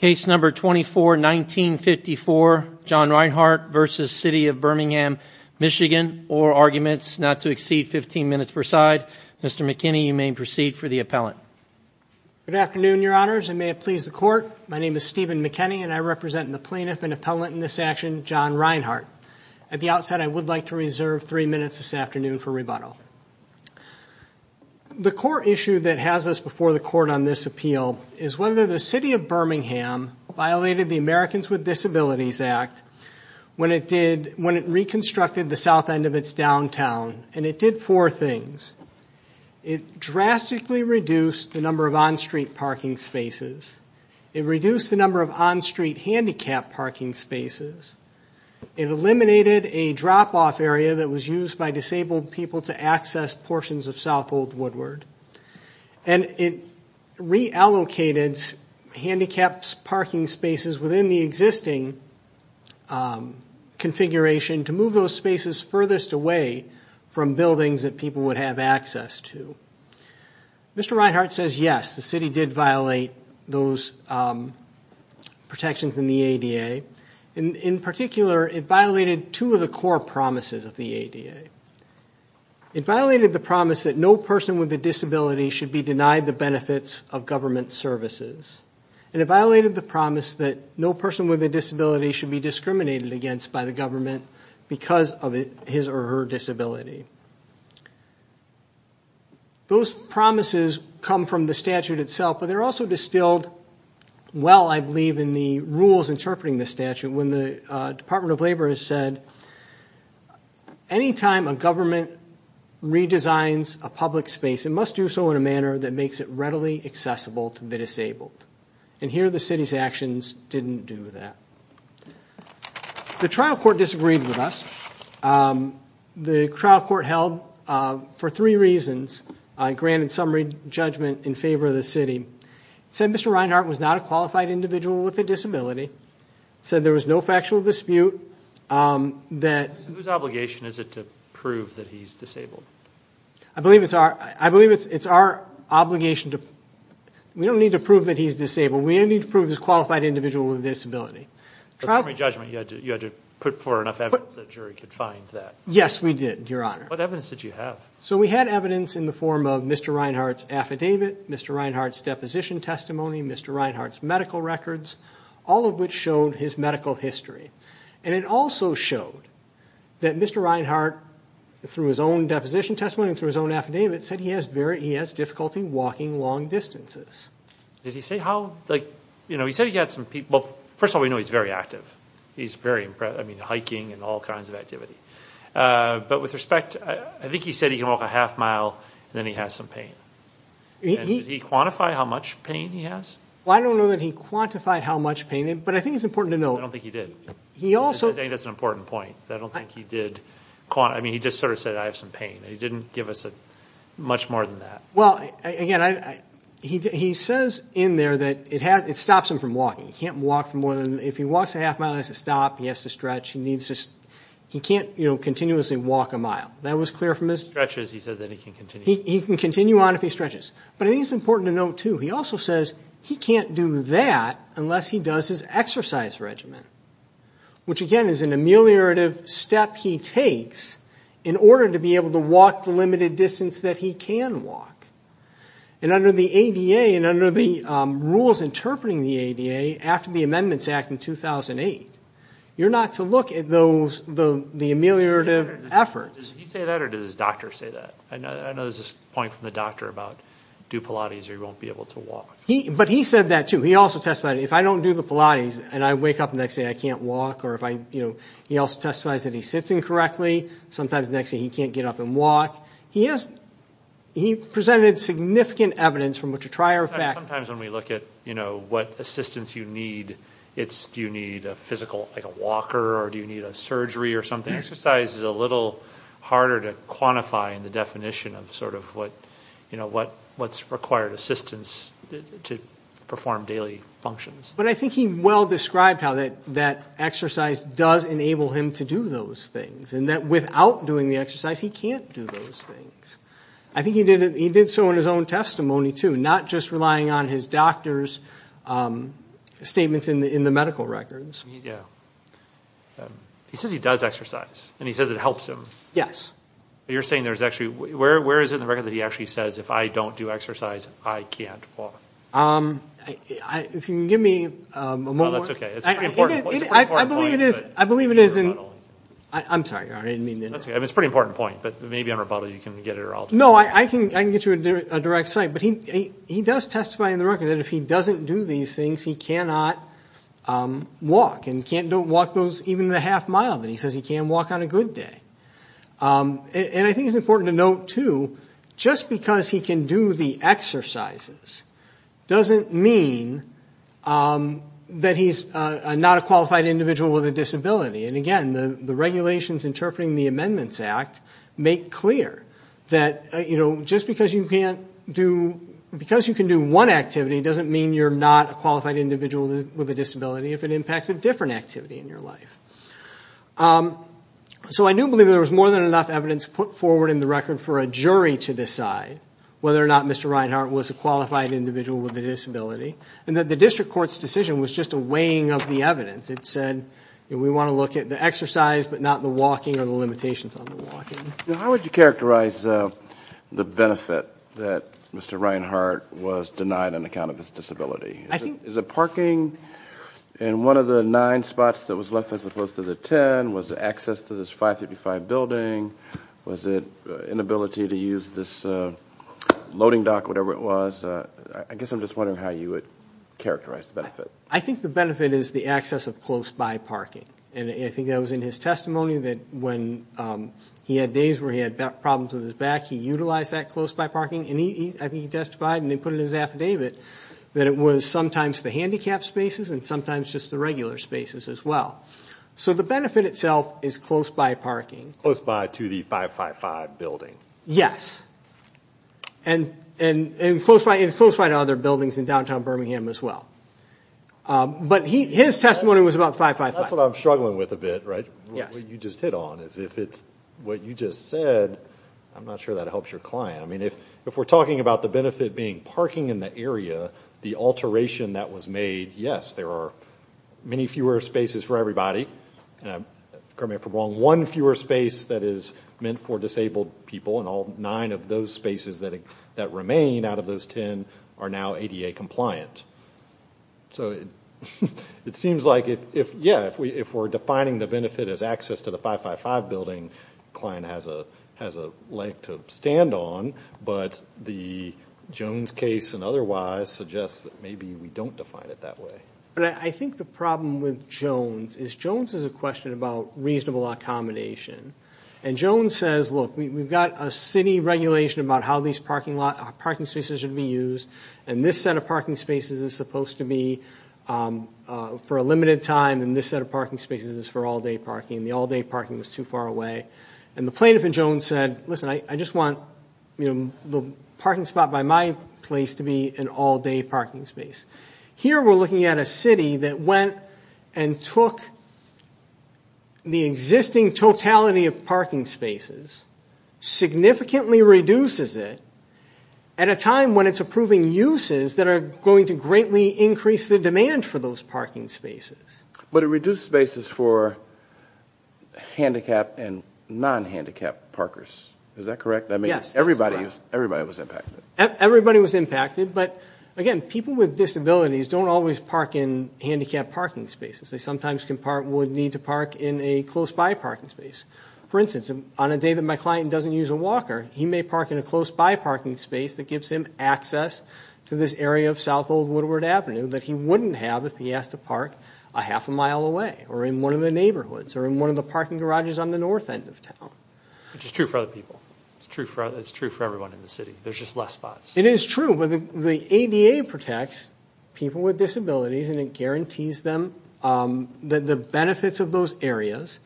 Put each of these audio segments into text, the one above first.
Case number 24-1954, John Reinhart v. City of Birmingham, MI, or arguments not to exceed 15 minutes per side, Mr. McKinney, you may proceed for the appellant. Good afternoon, Your Honors, and may it please the Court, my name is Stephen McKinney, and I represent the plaintiff and appellant in this action, John Reinhart. At the outset, I would like to reserve three minutes this afternoon for rebuttal. The core issue that has us before the Court on this appeal is whether the City of Birmingham violated the Americans with Disabilities Act when it reconstructed the south end of its downtown, and it did four things. It drastically reduced the number of on-street parking spaces. It reduced the number of on-street handicap parking spaces. It eliminated a drop-off area that was used by disabled people to access portions of South Old Woodward. And it reallocated handicapped parking spaces within the existing configuration to move those spaces furthest away from buildings that people would have access to. Mr. Reinhart says yes, the City did violate those protections in the ADA. In particular, it violated two of the core promises of the ADA. It violated the promise that no person with a disability should be denied the benefits of government services. And it violated the promise that no person with a disability should be discriminated against by the government because of his or her disability. Those promises come from the statute itself, but they're also distilled well, I believe, in the rules interpreting the statute when the Department of Labor has said, anytime a government redesigns a public space, it must do so in a manner that makes it readily accessible to the disabled. And here the City's actions didn't do that. The trial court disagreed with us. The trial court held, for three reasons, granted summary judgment in favor of the City. It said Mr. Reinhart was not a qualified individual with a disability. It said there was no factual dispute. Whose obligation is it to prove that he's disabled? I believe it's our obligation. We don't need to prove that he's disabled. We only need to prove he's a qualified individual with a disability. The summary judgment, you had to put forth enough evidence that a jury could find that. Yes, we did, Your Honor. What evidence did you have? So we had evidence in the form of Mr. Reinhart's affidavit, Mr. Reinhart's deposition testimony, Mr. Reinhart's medical records, all of which showed his medical history. And it also showed that Mr. Reinhart, through his own deposition testimony and through his own affidavit, said he has difficulty walking long distances. Did he say how, like, you know, he said he had some, well, first of all, we know he's very active. He's very, I mean, hiking and all kinds of activity. But with respect, I think he said he can walk a half mile and then he has some pain. Did he quantify how much pain he has? Well, I don't know that he quantified how much pain, but I think it's important to note. I don't think he did. He also I think that's an important point. I don't think he did, I mean, he just sort of said, I have some pain. He didn't give us much more than that. Well, again, he says in there that it stops him from walking. He can't walk more than, if he walks a half mile, he has to stop, he has to stretch. He needs to, he can't, you know, continuously walk a mile. That was clear from his He stretches, he said that he can continue. He can continue on if he stretches. But I think it's important to note, too, he also says he can't do that unless he does his exercise regimen, which, again, is an ameliorative step he takes in order to be able to walk the limited distance that he can walk. And under the ADA and under the rules interpreting the ADA after the Amendments Act in 2008, you're not to look at those, the ameliorative efforts. Did he say that or did his doctor say that? I know there's this point from the doctor about do Pilates or you won't be able to walk. But he said that, too. He also testified, if I don't do the Pilates and I wake up the next day and I can't walk, or if I, you know, he also testifies that he sits incorrectly. Sometimes the next day he can't get up and walk. He has, he presented significant evidence from which to try our effect. Sometimes when we look at, you know, what assistance you need, it's do you need a physical, like a walker, or do you need a surgery or something. Exercise is a little harder to quantify in the definition of sort of what, you know, what's required assistance to perform daily functions. But I think he well described how that exercise does enable him to do those things and that without doing the exercise he can't do those things. I think he did so in his own testimony, too, not just relying on his doctor's statements in the medical records. Yeah. He says he does exercise and he says it helps him. Yes. You're saying there's actually, where is it in the record that he actually says, if I don't do exercise I can't walk? If you can give me a moment. No, that's okay. It's a pretty important point. I believe it is in, I'm sorry, I didn't mean to interrupt. That's okay. It's a pretty important point, but maybe on rebuttal you can get it or I'll do it. No, I can get you a direct cite, but he does testify in the record that if he doesn't do these things he cannot walk and can't walk even the half mile that he says he can walk on a good day. And I think it's important to note, too, just because he can do the exercises doesn't mean that he's not a qualified individual with a disability. And, again, the regulations interpreting the Amendments Act make clear that just because you can't do, because you can do one activity doesn't mean you're not a qualified individual with a disability. If it impacts a different activity in your life. So I do believe there was more than enough evidence put forward in the record for a jury to decide whether or not Mr. Reinhart was a qualified individual with a disability, and that the district court's decision was just a weighing of the evidence. It said we want to look at the exercise but not the walking or the limitations on the walking. How would you characterize the benefit that Mr. Reinhart was denied on account of his disability? Is it parking in one of the nine spots that was left as opposed to the ten? Was it access to this 555 building? Was it inability to use this loading dock, whatever it was? I guess I'm just wondering how you would characterize the benefit. I think the benefit is the access of close-by parking. And I think that was in his testimony that when he had days where he had problems with his back, he utilized that close-by parking. And I think he testified, and they put it in his affidavit, that it was sometimes the handicapped spaces and sometimes just the regular spaces as well. So the benefit itself is close-by parking. Close-by to the 555 building. Yes. And it's close-by to other buildings in downtown Birmingham as well. But his testimony was about 555. That's what I'm struggling with a bit, right? Yes. What you just hit on is if it's what you just said, I'm not sure that helps your client. I mean, if we're talking about the benefit being parking in the area, the alteration that was made, yes, there are many fewer spaces for everybody. One fewer space that is meant for disabled people, and all nine of those spaces that remain out of those ten are now ADA compliant. So it seems like, yeah, if we're defining the benefit as access to the 555 building, the client has a leg to stand on, but the Jones case and otherwise suggests that maybe we don't define it that way. But I think the problem with Jones is Jones has a question about reasonable accommodation. And Jones says, look, we've got a city regulation about how these parking spaces should be used, and this set of parking spaces is supposed to be for a limited time, and this set of parking spaces is for all-day parking. The all-day parking was too far away. And the plaintiff in Jones said, listen, I just want the parking spot by my place to be an all-day parking space. Here we're looking at a city that went and took the existing totality of parking spaces, significantly reduces it at a time when it's approving uses that are going to greatly increase the demand for those parking spaces. But it reduced spaces for handicapped and non-handicapped parkers. Is that correct? Yes, that's correct. Everybody was impacted. Everybody was impacted, but, again, people with disabilities don't always park in handicapped parking spaces. They sometimes would need to park in a close-by parking space. For instance, on a day that my client doesn't use a walker, he may park in a close-by parking space that gives him access to this area of South Old Woodward Avenue that he wouldn't have if he asked to park a half a mile away or in one of the neighborhoods or in one of the parking garages on the north end of town. Which is true for other people. It's true for everyone in the city. There's just less spots. It is true, but the ADA protects people with disabilities, and it guarantees them that the benefits of those areas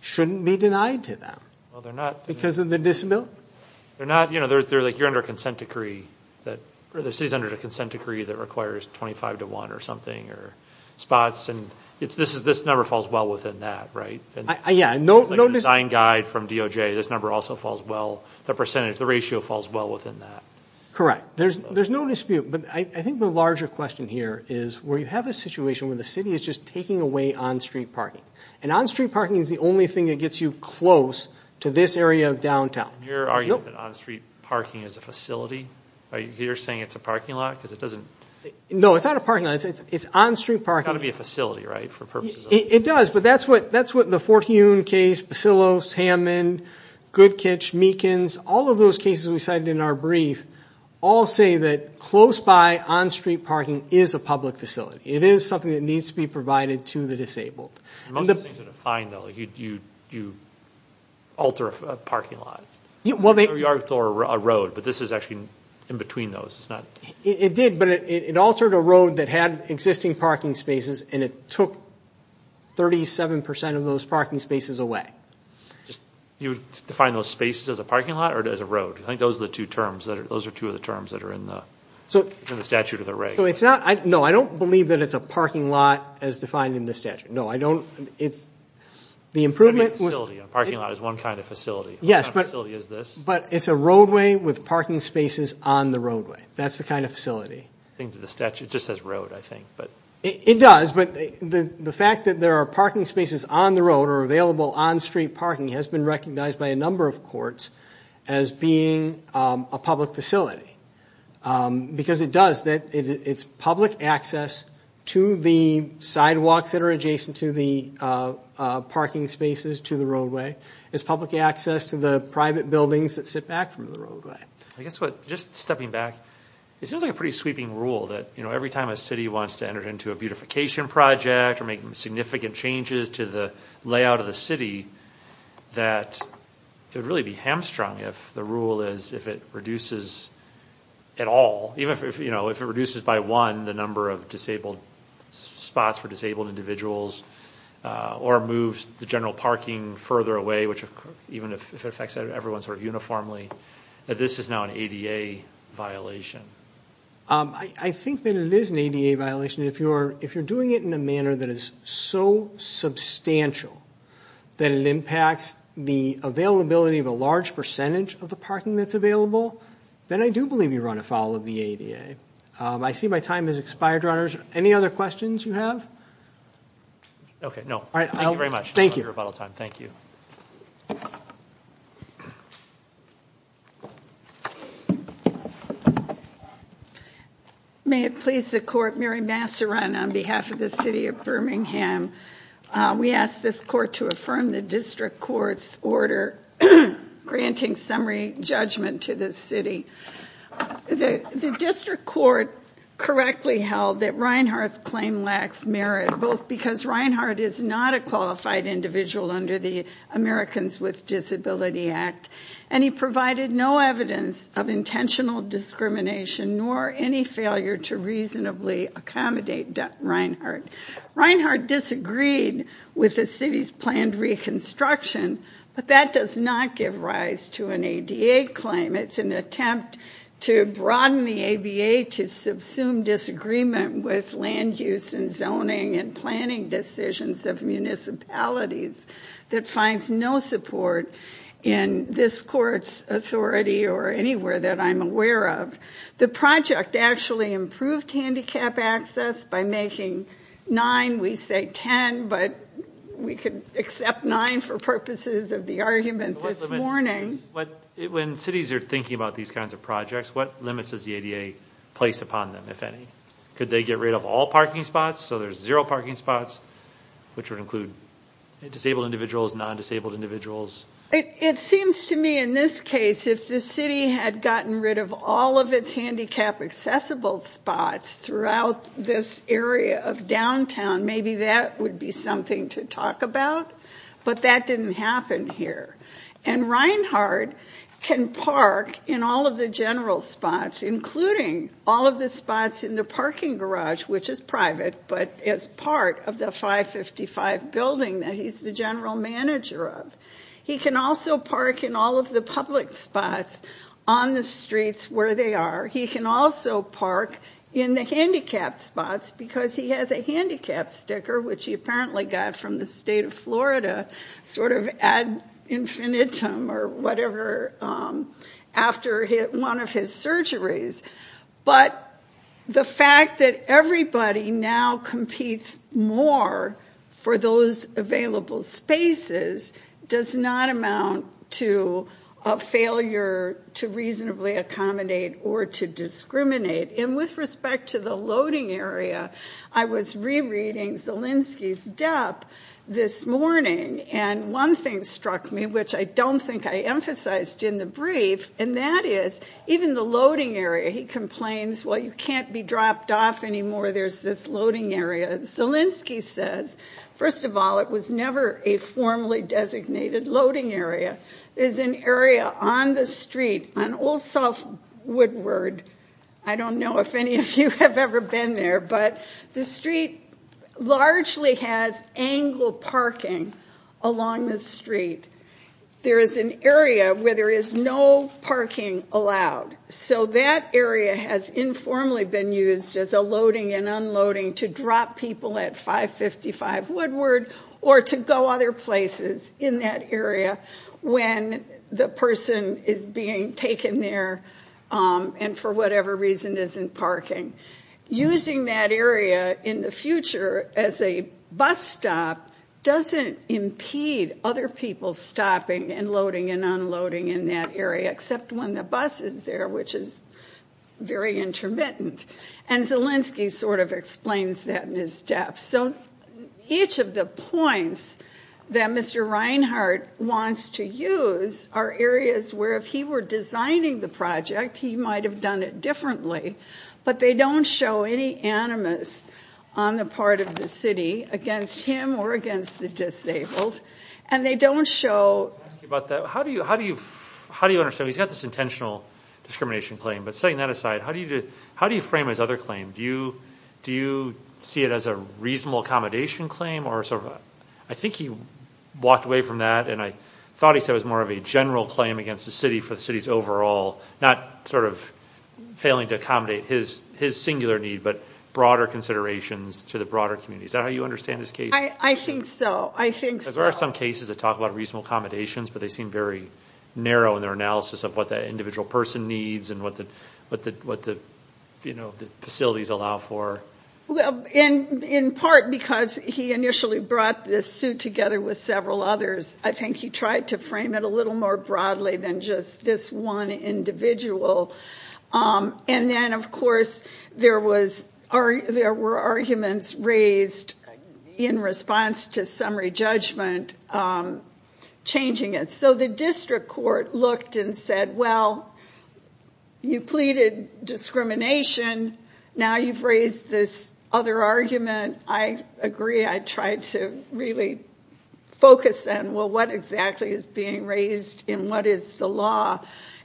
shouldn't be denied to them because of the disability. You're under a consent decree that requires 25 to 1 or something, or spots, and this number falls well within that, right? Yeah. It's like a design guide from DOJ. This number also falls well. The ratio falls well within that. Correct. There's no dispute, but I think the larger question here is where you have a situation where the city is just taking away on-street parking, and on-street parking is the only thing that gets you close to this area of downtown. Are you saying that on-street parking is a facility? Are you saying it's a parking lot because it doesn't? No, it's not a parking lot. It's on-street parking. It's got to be a facility, right, for purposes of? It does, but that's what the Fort Huon case, Basilos, Hammond, Goodkitch, Meekins, all of those cases we cited in our brief all say that close-by on-street parking is a public facility. It is something that needs to be provided to the disabled. Most of the things are defined, though. You alter a parking lot or a road, but this is actually in between those. It did, but it altered a road that had existing parking spaces, and it took 37 percent of those parking spaces away. You define those spaces as a parking lot or as a road? I think those are the two terms that are in the statute of the reg. No, I don't believe that it's a parking lot as defined in the statute. No, I don't. The improvement was? A parking lot is one kind of facility. Yes, but it's a roadway with parking spaces on the roadway. That's the kind of facility. It just says road, I think. It does, but the fact that there are parking spaces on the road or available on-street parking has been recognized by a number of courts as being a public facility because it does. It's public access to the sidewalks that are adjacent to the parking spaces to the roadway. It's public access to the private buildings that sit back from the roadway. I guess just stepping back, it seems like a pretty sweeping rule that every time a city wants to enter into a beautification project or make significant changes to the layout of the city, that it would really be hamstrung if the rule is if it reduces at all. Even if it reduces by one the number of spots for disabled individuals or moves the general parking further away, even if it affects everyone sort of uniformly, that this is now an ADA violation. I think that it is an ADA violation. If you're doing it in a manner that is so substantial that it impacts the availability of a large percentage of the parking that's available, then I do believe you run afoul of the ADA. I see my time has expired, Your Honors. Any other questions you have? Okay. No. Thank you very much for your rebuttal time. Thank you. May it please the Court. Mary Massaran on behalf of the City of Birmingham. We ask this Court to affirm the District Court's order granting summary judgment to this city. The District Court correctly held that Reinhardt's claim lacks merit, both because Reinhardt is not a qualified individual under the Americans with Disability Act, and he provided no evidence of intentional discrimination nor any failure to reasonably accommodate Reinhardt. Reinhardt disagreed with the city's planned reconstruction, but that does not give rise to an ADA claim. It's an attempt to broaden the ABA to subsume disagreement with land use and zoning and planning decisions of municipalities that finds no support in this Court's authority or anywhere that I'm aware of. The project actually improved handicap access by making nine, we say 10, but we could accept nine for purposes of the argument this morning. When cities are thinking about these kinds of projects, what limits does the ADA place upon them, if any? Could they get rid of all parking spots so there's zero parking spots, which would include disabled individuals, non-disabled individuals? It seems to me in this case, if the city had gotten rid of all of its handicap accessible spots throughout this area of downtown, maybe that would be something to talk about. But that didn't happen here. And Reinhardt can park in all of the general spots, including all of the spots in the parking garage, which is private, but is part of the 555 building that he's the general manager of. He can also park in all of the public spots on the streets where they are. He can also park in the handicap spots because he has a handicap sticker, which he apparently got from the state of Florida, sort of ad infinitum or whatever, after one of his surgeries. But the fact that everybody now competes more for those available spaces does not amount to a failure to reasonably accommodate or to discriminate. And with respect to the loading area, I was rereading Zielinski's depth this morning, and one thing struck me, which I don't think I emphasized in the brief, and that is even the loading area, he complains, well, you can't be dropped off anymore, there's this loading area. Zielinski says, first of all, it was never a formally designated loading area. There's an area on the street, on Old South Woodward, I don't know if any of you have ever been there, but the street largely has angled parking along the street. There is an area where there is no parking allowed. So that area has informally been used as a loading and unloading to drop people at 555 Woodward or to go other places in that area when the person is being taken there and for whatever reason isn't parking. Using that area in the future as a bus stop doesn't impede other people stopping and loading and unloading in that area, except when the bus is there, which is very intermittent. And Zielinski sort of explains that in his depth. So each of the points that Mr. Reinhart wants to use are areas where if he were designing the project, he might have done it differently, but they don't show any animus on the part of the city against him or against the disabled, and they don't show... How do you understand? He's got this intentional discrimination claim, but setting that aside, how do you frame his other claim? Do you see it as a reasonable accommodation claim? I think he walked away from that, and I thought he said it was more of a general claim against the city for the city's overall, not sort of failing to accommodate his singular need, but broader considerations to the broader community. Is that how you understand his case? I think so. I think so. There are some cases that talk about reasonable accommodations, but they seem very narrow in their analysis of what that individual person needs and what the facilities allow for. Well, in part because he initially brought this suit together with several others, I think he tried to frame it a little more broadly than just this one individual. And then, of course, there were arguments raised in response to summary judgment changing it. So the district court looked and said, well, you pleaded discrimination, now you've raised this other argument. I agree. I tried to really focus on, well, what exactly is being raised, and what is the law,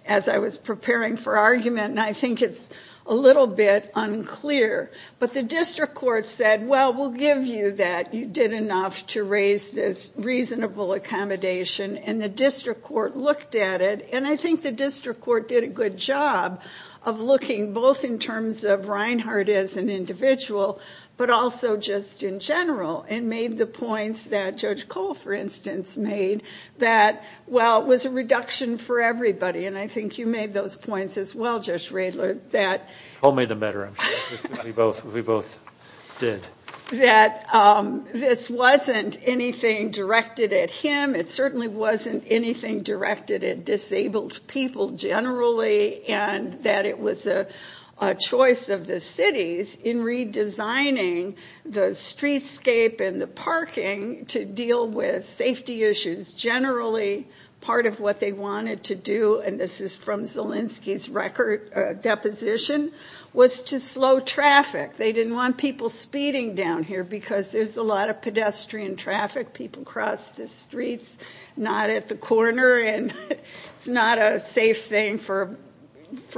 as I was preparing for argument, and I think it's a little bit unclear. But the district court said, well, we'll give you that. You did enough to raise this reasonable accommodation, and the district court looked at it, and I think the district court did a good job of looking both in terms of Reinhardt as an individual, but also just in general, and made the points that Judge Cole, for instance, made, that, well, it was a reduction for everybody, and I think you made those points as well, Judge Radler. Cole made them better, I'm sure. We both did. That this wasn't anything directed at him. It certainly wasn't anything directed at disabled people generally, and that it was a choice of the cities in redesigning the streetscape and the parking to deal with safety issues. Generally, part of what they wanted to do, and this is from Zielinski's record deposition, was to slow traffic. They didn't want people speeding down here because there's a lot of pedestrian traffic. People cross the streets not at the corner, and it's not a safe thing for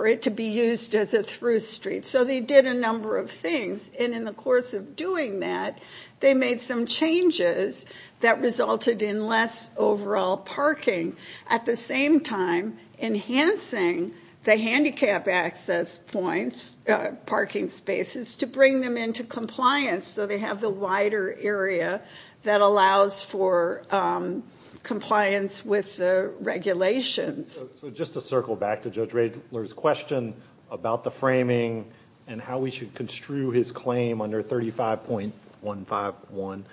it to be used as a through street. So they did a number of things, and in the course of doing that, they made some changes that resulted in less overall parking, at the same time enhancing the handicap access points, parking spaces, to bring them into compliance so they have the wider area that allows for compliance with the regulations. So just to circle back to Judge Radler's question about the framing and how we should construe his claim under 35.151,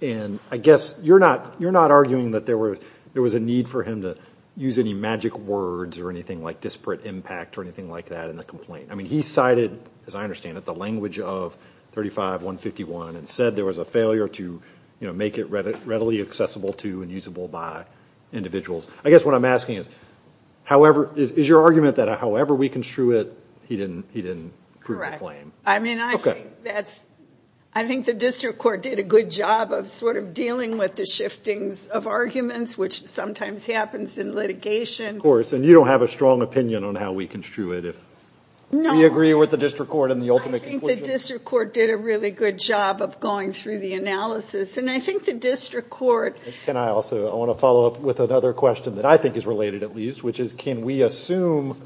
and I guess you're not arguing that there was a need for him to use any magic words or anything like disparate impact or anything like that in the complaint. He cited, as I understand it, the language of 35.151 and said there was a failure to make it readily accessible to and usable by individuals. I guess what I'm asking is, is your argument that however we construe it, he didn't prove the claim? Correct. I mean, I think the district court did a good job of sort of dealing with the shiftings of arguments, which sometimes happens in litigation. Of course, and you don't have a strong opinion on how we construe it. No. Do you agree with the district court in the ultimate conclusion? I think the district court did a really good job of going through the analysis, and I think the district court... Can I also, I want to follow up with another question that I think is related at least, which is can we assume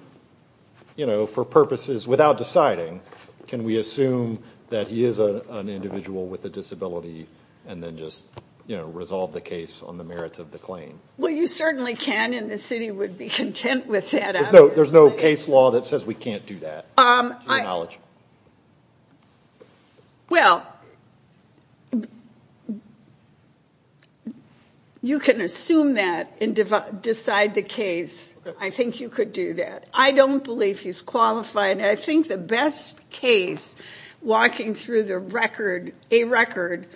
for purposes without deciding, can we assume that he is an individual with a disability and then just resolve the case on the merits of the claim? Well, you certainly can, and the city would be content with that. There's no case law that says we can't do that, to your knowledge. Well, you can assume that and decide the case. I think you could do that. I don't believe he's qualified, and I think the best case, walking through a record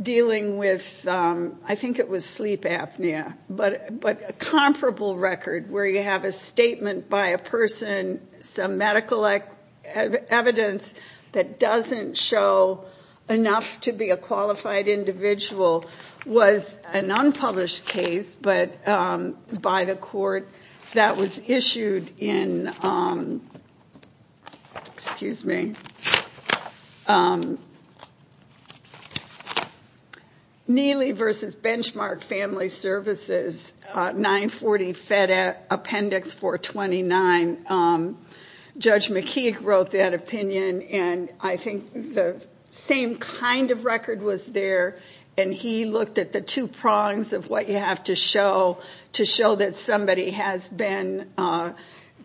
dealing with, I think it was sleep apnea, but a comparable record where you have a statement by a person, and some medical evidence that doesn't show enough to be a qualified individual was an unpublished case by the court that was issued in... Excuse me. Neely v. Benchmark Family Services, 940 Fed Appendix 429. Judge McKeague wrote that opinion, and I think the same kind of record was there, and he looked at the two prongs of what you have to show to show that somebody has been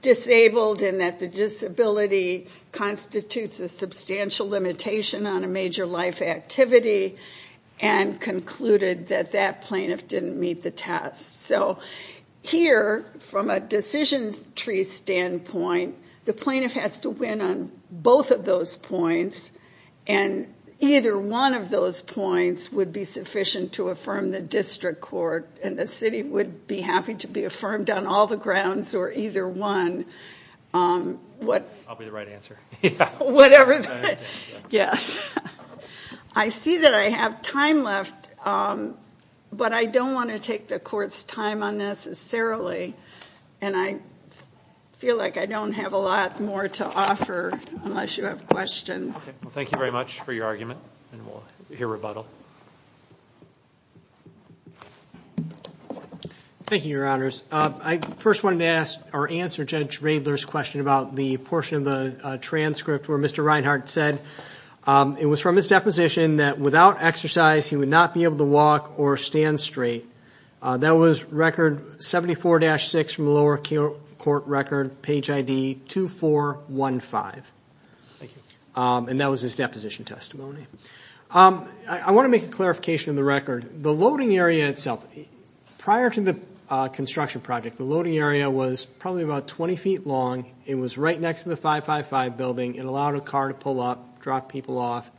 disabled and that the disability constitutes a substantial limitation on a major life activity, and concluded that that plaintiff didn't meet the test. So here, from a decision tree standpoint, the plaintiff has to win on both of those points, and either one of those points would be sufficient to affirm the district court, and the city would be happy to be affirmed on all the grounds or either one. I'll be the right answer. Yes. I see that I have time left, but I don't want to take the court's time on this necessarily, and I feel like I don't have a lot more to offer unless you have questions. Well, thank you very much for your argument, and we'll hear rebuttal. Thank you, Your Honors. I first wanted to ask or answer Judge Radler's question about the portion of the transcript where Mr. Reinhart said it was from his deposition that without exercise he would not be able to walk or stand straight. That was record 74-6 from the lower court record, page ID 2415. Thank you. And that was his deposition testimony. I want to make a clarification on the record. The loading area itself, prior to the construction project, the loading area was probably about 20 feet long. It was right next to the 555 building. It allowed a car to pull up, drop people off,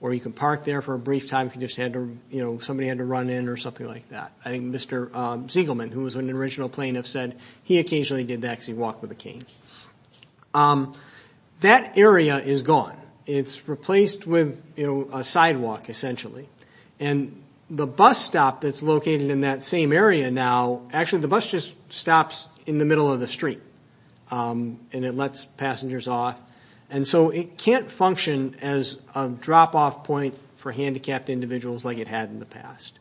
or you could park there for a brief time if somebody had to run in or something like that. I think Mr. Zegelman, who was an original plaintiff, said he occasionally did actually walk with a cane. That area is gone. It's replaced with a sidewalk, essentially, and the bus stop that's located in that same area now, actually the bus just stops in the middle of the street, and it lets passengers off. It can't function as a drop-off point for handicapped individuals like it had in the past.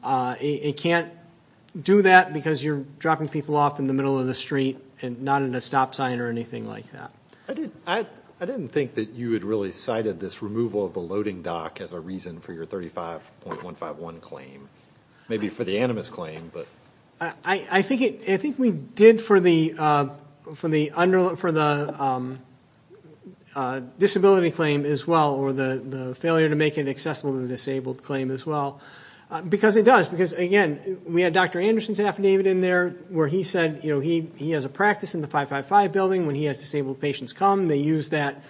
It can't do that because you're dropping people off in the middle of the street, not in a stop sign or anything like that. I didn't think that you had really cited this removal of the loading dock as a reason for your 35.151 claim, maybe for the animus claim. I think we did for the disability claim as well, or the failure to make it accessible to the disabled claim as well, because it does. Again, we had Dr. Anderson's affidavit in there where he said he has a practice in the 555 building. When he has disabled patients come, they use that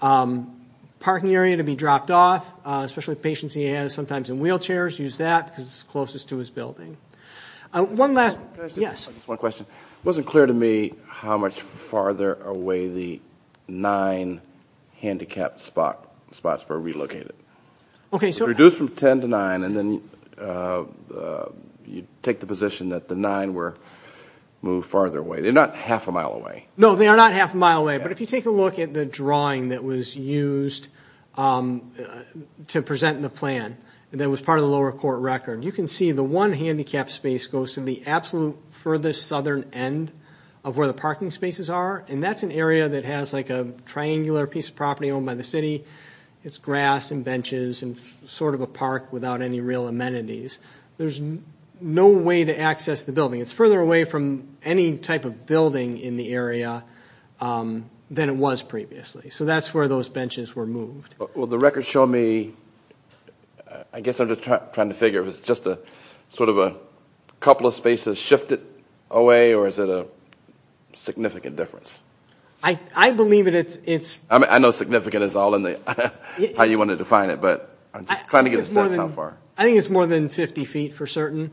parking area to be dropped off, especially patients he has sometimes in wheelchairs use that because it's closest to his building. One last question. It wasn't clear to me how much farther away the nine handicapped spots were relocated. It reduced from ten to nine, and then you take the position that the nine were moved farther away. They're not half a mile away. No, they are not half a mile away. If you take a look at the drawing that was used to present the plan that was part of the lower court record, you can see the one handicapped space goes to the absolute furthest southern end of where the parking spaces are. That's an area that has a triangular piece of property owned by the city. It's grass and benches, and it's sort of a park without any real amenities. There's no way to access the building. It's further away from any type of building in the area than it was previously. So that's where those benches were moved. Well, the records show me, I guess I'm just trying to figure if it's just sort of a couple of spaces shifted away, or is it a significant difference? I believe it is. I know significant is all in the how you want to define it, but I'm just trying to get a sense how far. I think it's more than 50 feet for certain.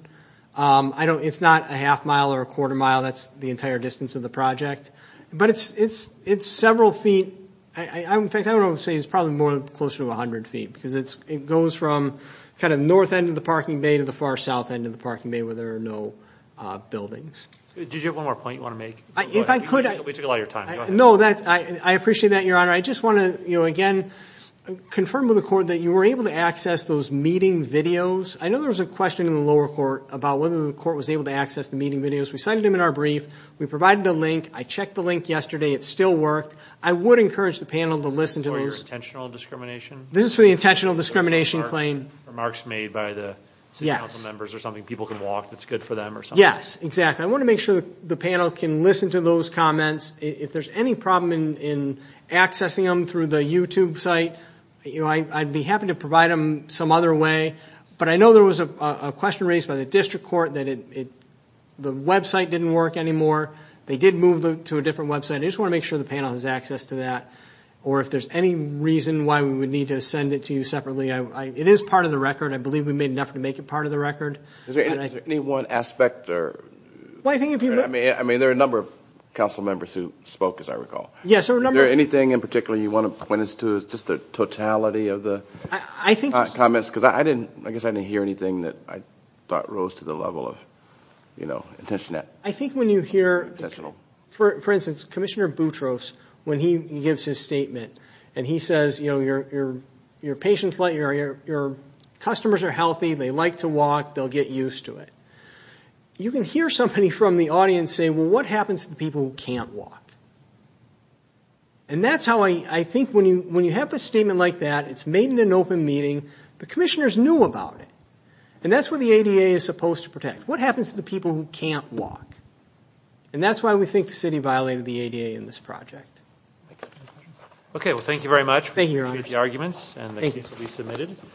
It's not a half mile or a quarter mile. That's the entire distance of the project. But it's several feet. In fact, I would say it's probably more than close to 100 feet, because it goes from kind of north end of the parking bay to the far south end of the parking bay where there are no buildings. Did you have one more point you want to make? We took a lot of your time. No, I appreciate that, Your Honor. I just want to, again, confirm with the court that you were able to access those meeting videos. I know there was a question in the lower court about whether the court was able to access the meeting videos. We cited them in our brief. We provided a link. I checked the link yesterday. It still worked. I would encourage the panel to listen to those. Is this for your intentional discrimination? This is for the intentional discrimination claim. Remarks made by the city council members or something. People can walk. It's good for them or something. Yes, exactly. I want to make sure the panel can listen to those comments. If there's any problem in accessing them through the YouTube site, I'd be happy to provide them some other way. I know there was a question raised by the district court that the website didn't work anymore. They did move to a different website. I just want to make sure the panel has access to that. If there's any reason why we would need to send it to you separately, it is part of the record. I believe we made enough to make it part of the record. Is there any one aspect? There are a number of council members who spoke, as I recall. Is there anything in particular you want to point us to? Just the totality of the comments? I guess I didn't hear anything that I thought rose to the level of intentional. I think when you hear, for instance, Commissioner Boutros, when he gives his statement and he says, your customers are healthy, they like to walk, they'll get used to it. You can hear somebody from the audience say, well, what happens to the people who can't walk? And that's how I think when you have a statement like that, it's made in an open meeting. The commissioners knew about it, and that's what the ADA is supposed to protect. What happens to the people who can't walk? And that's why we think the city violated the ADA in this project. Okay, well, thank you very much. Thank you very much. We appreciate the arguments, and the case will be submitted.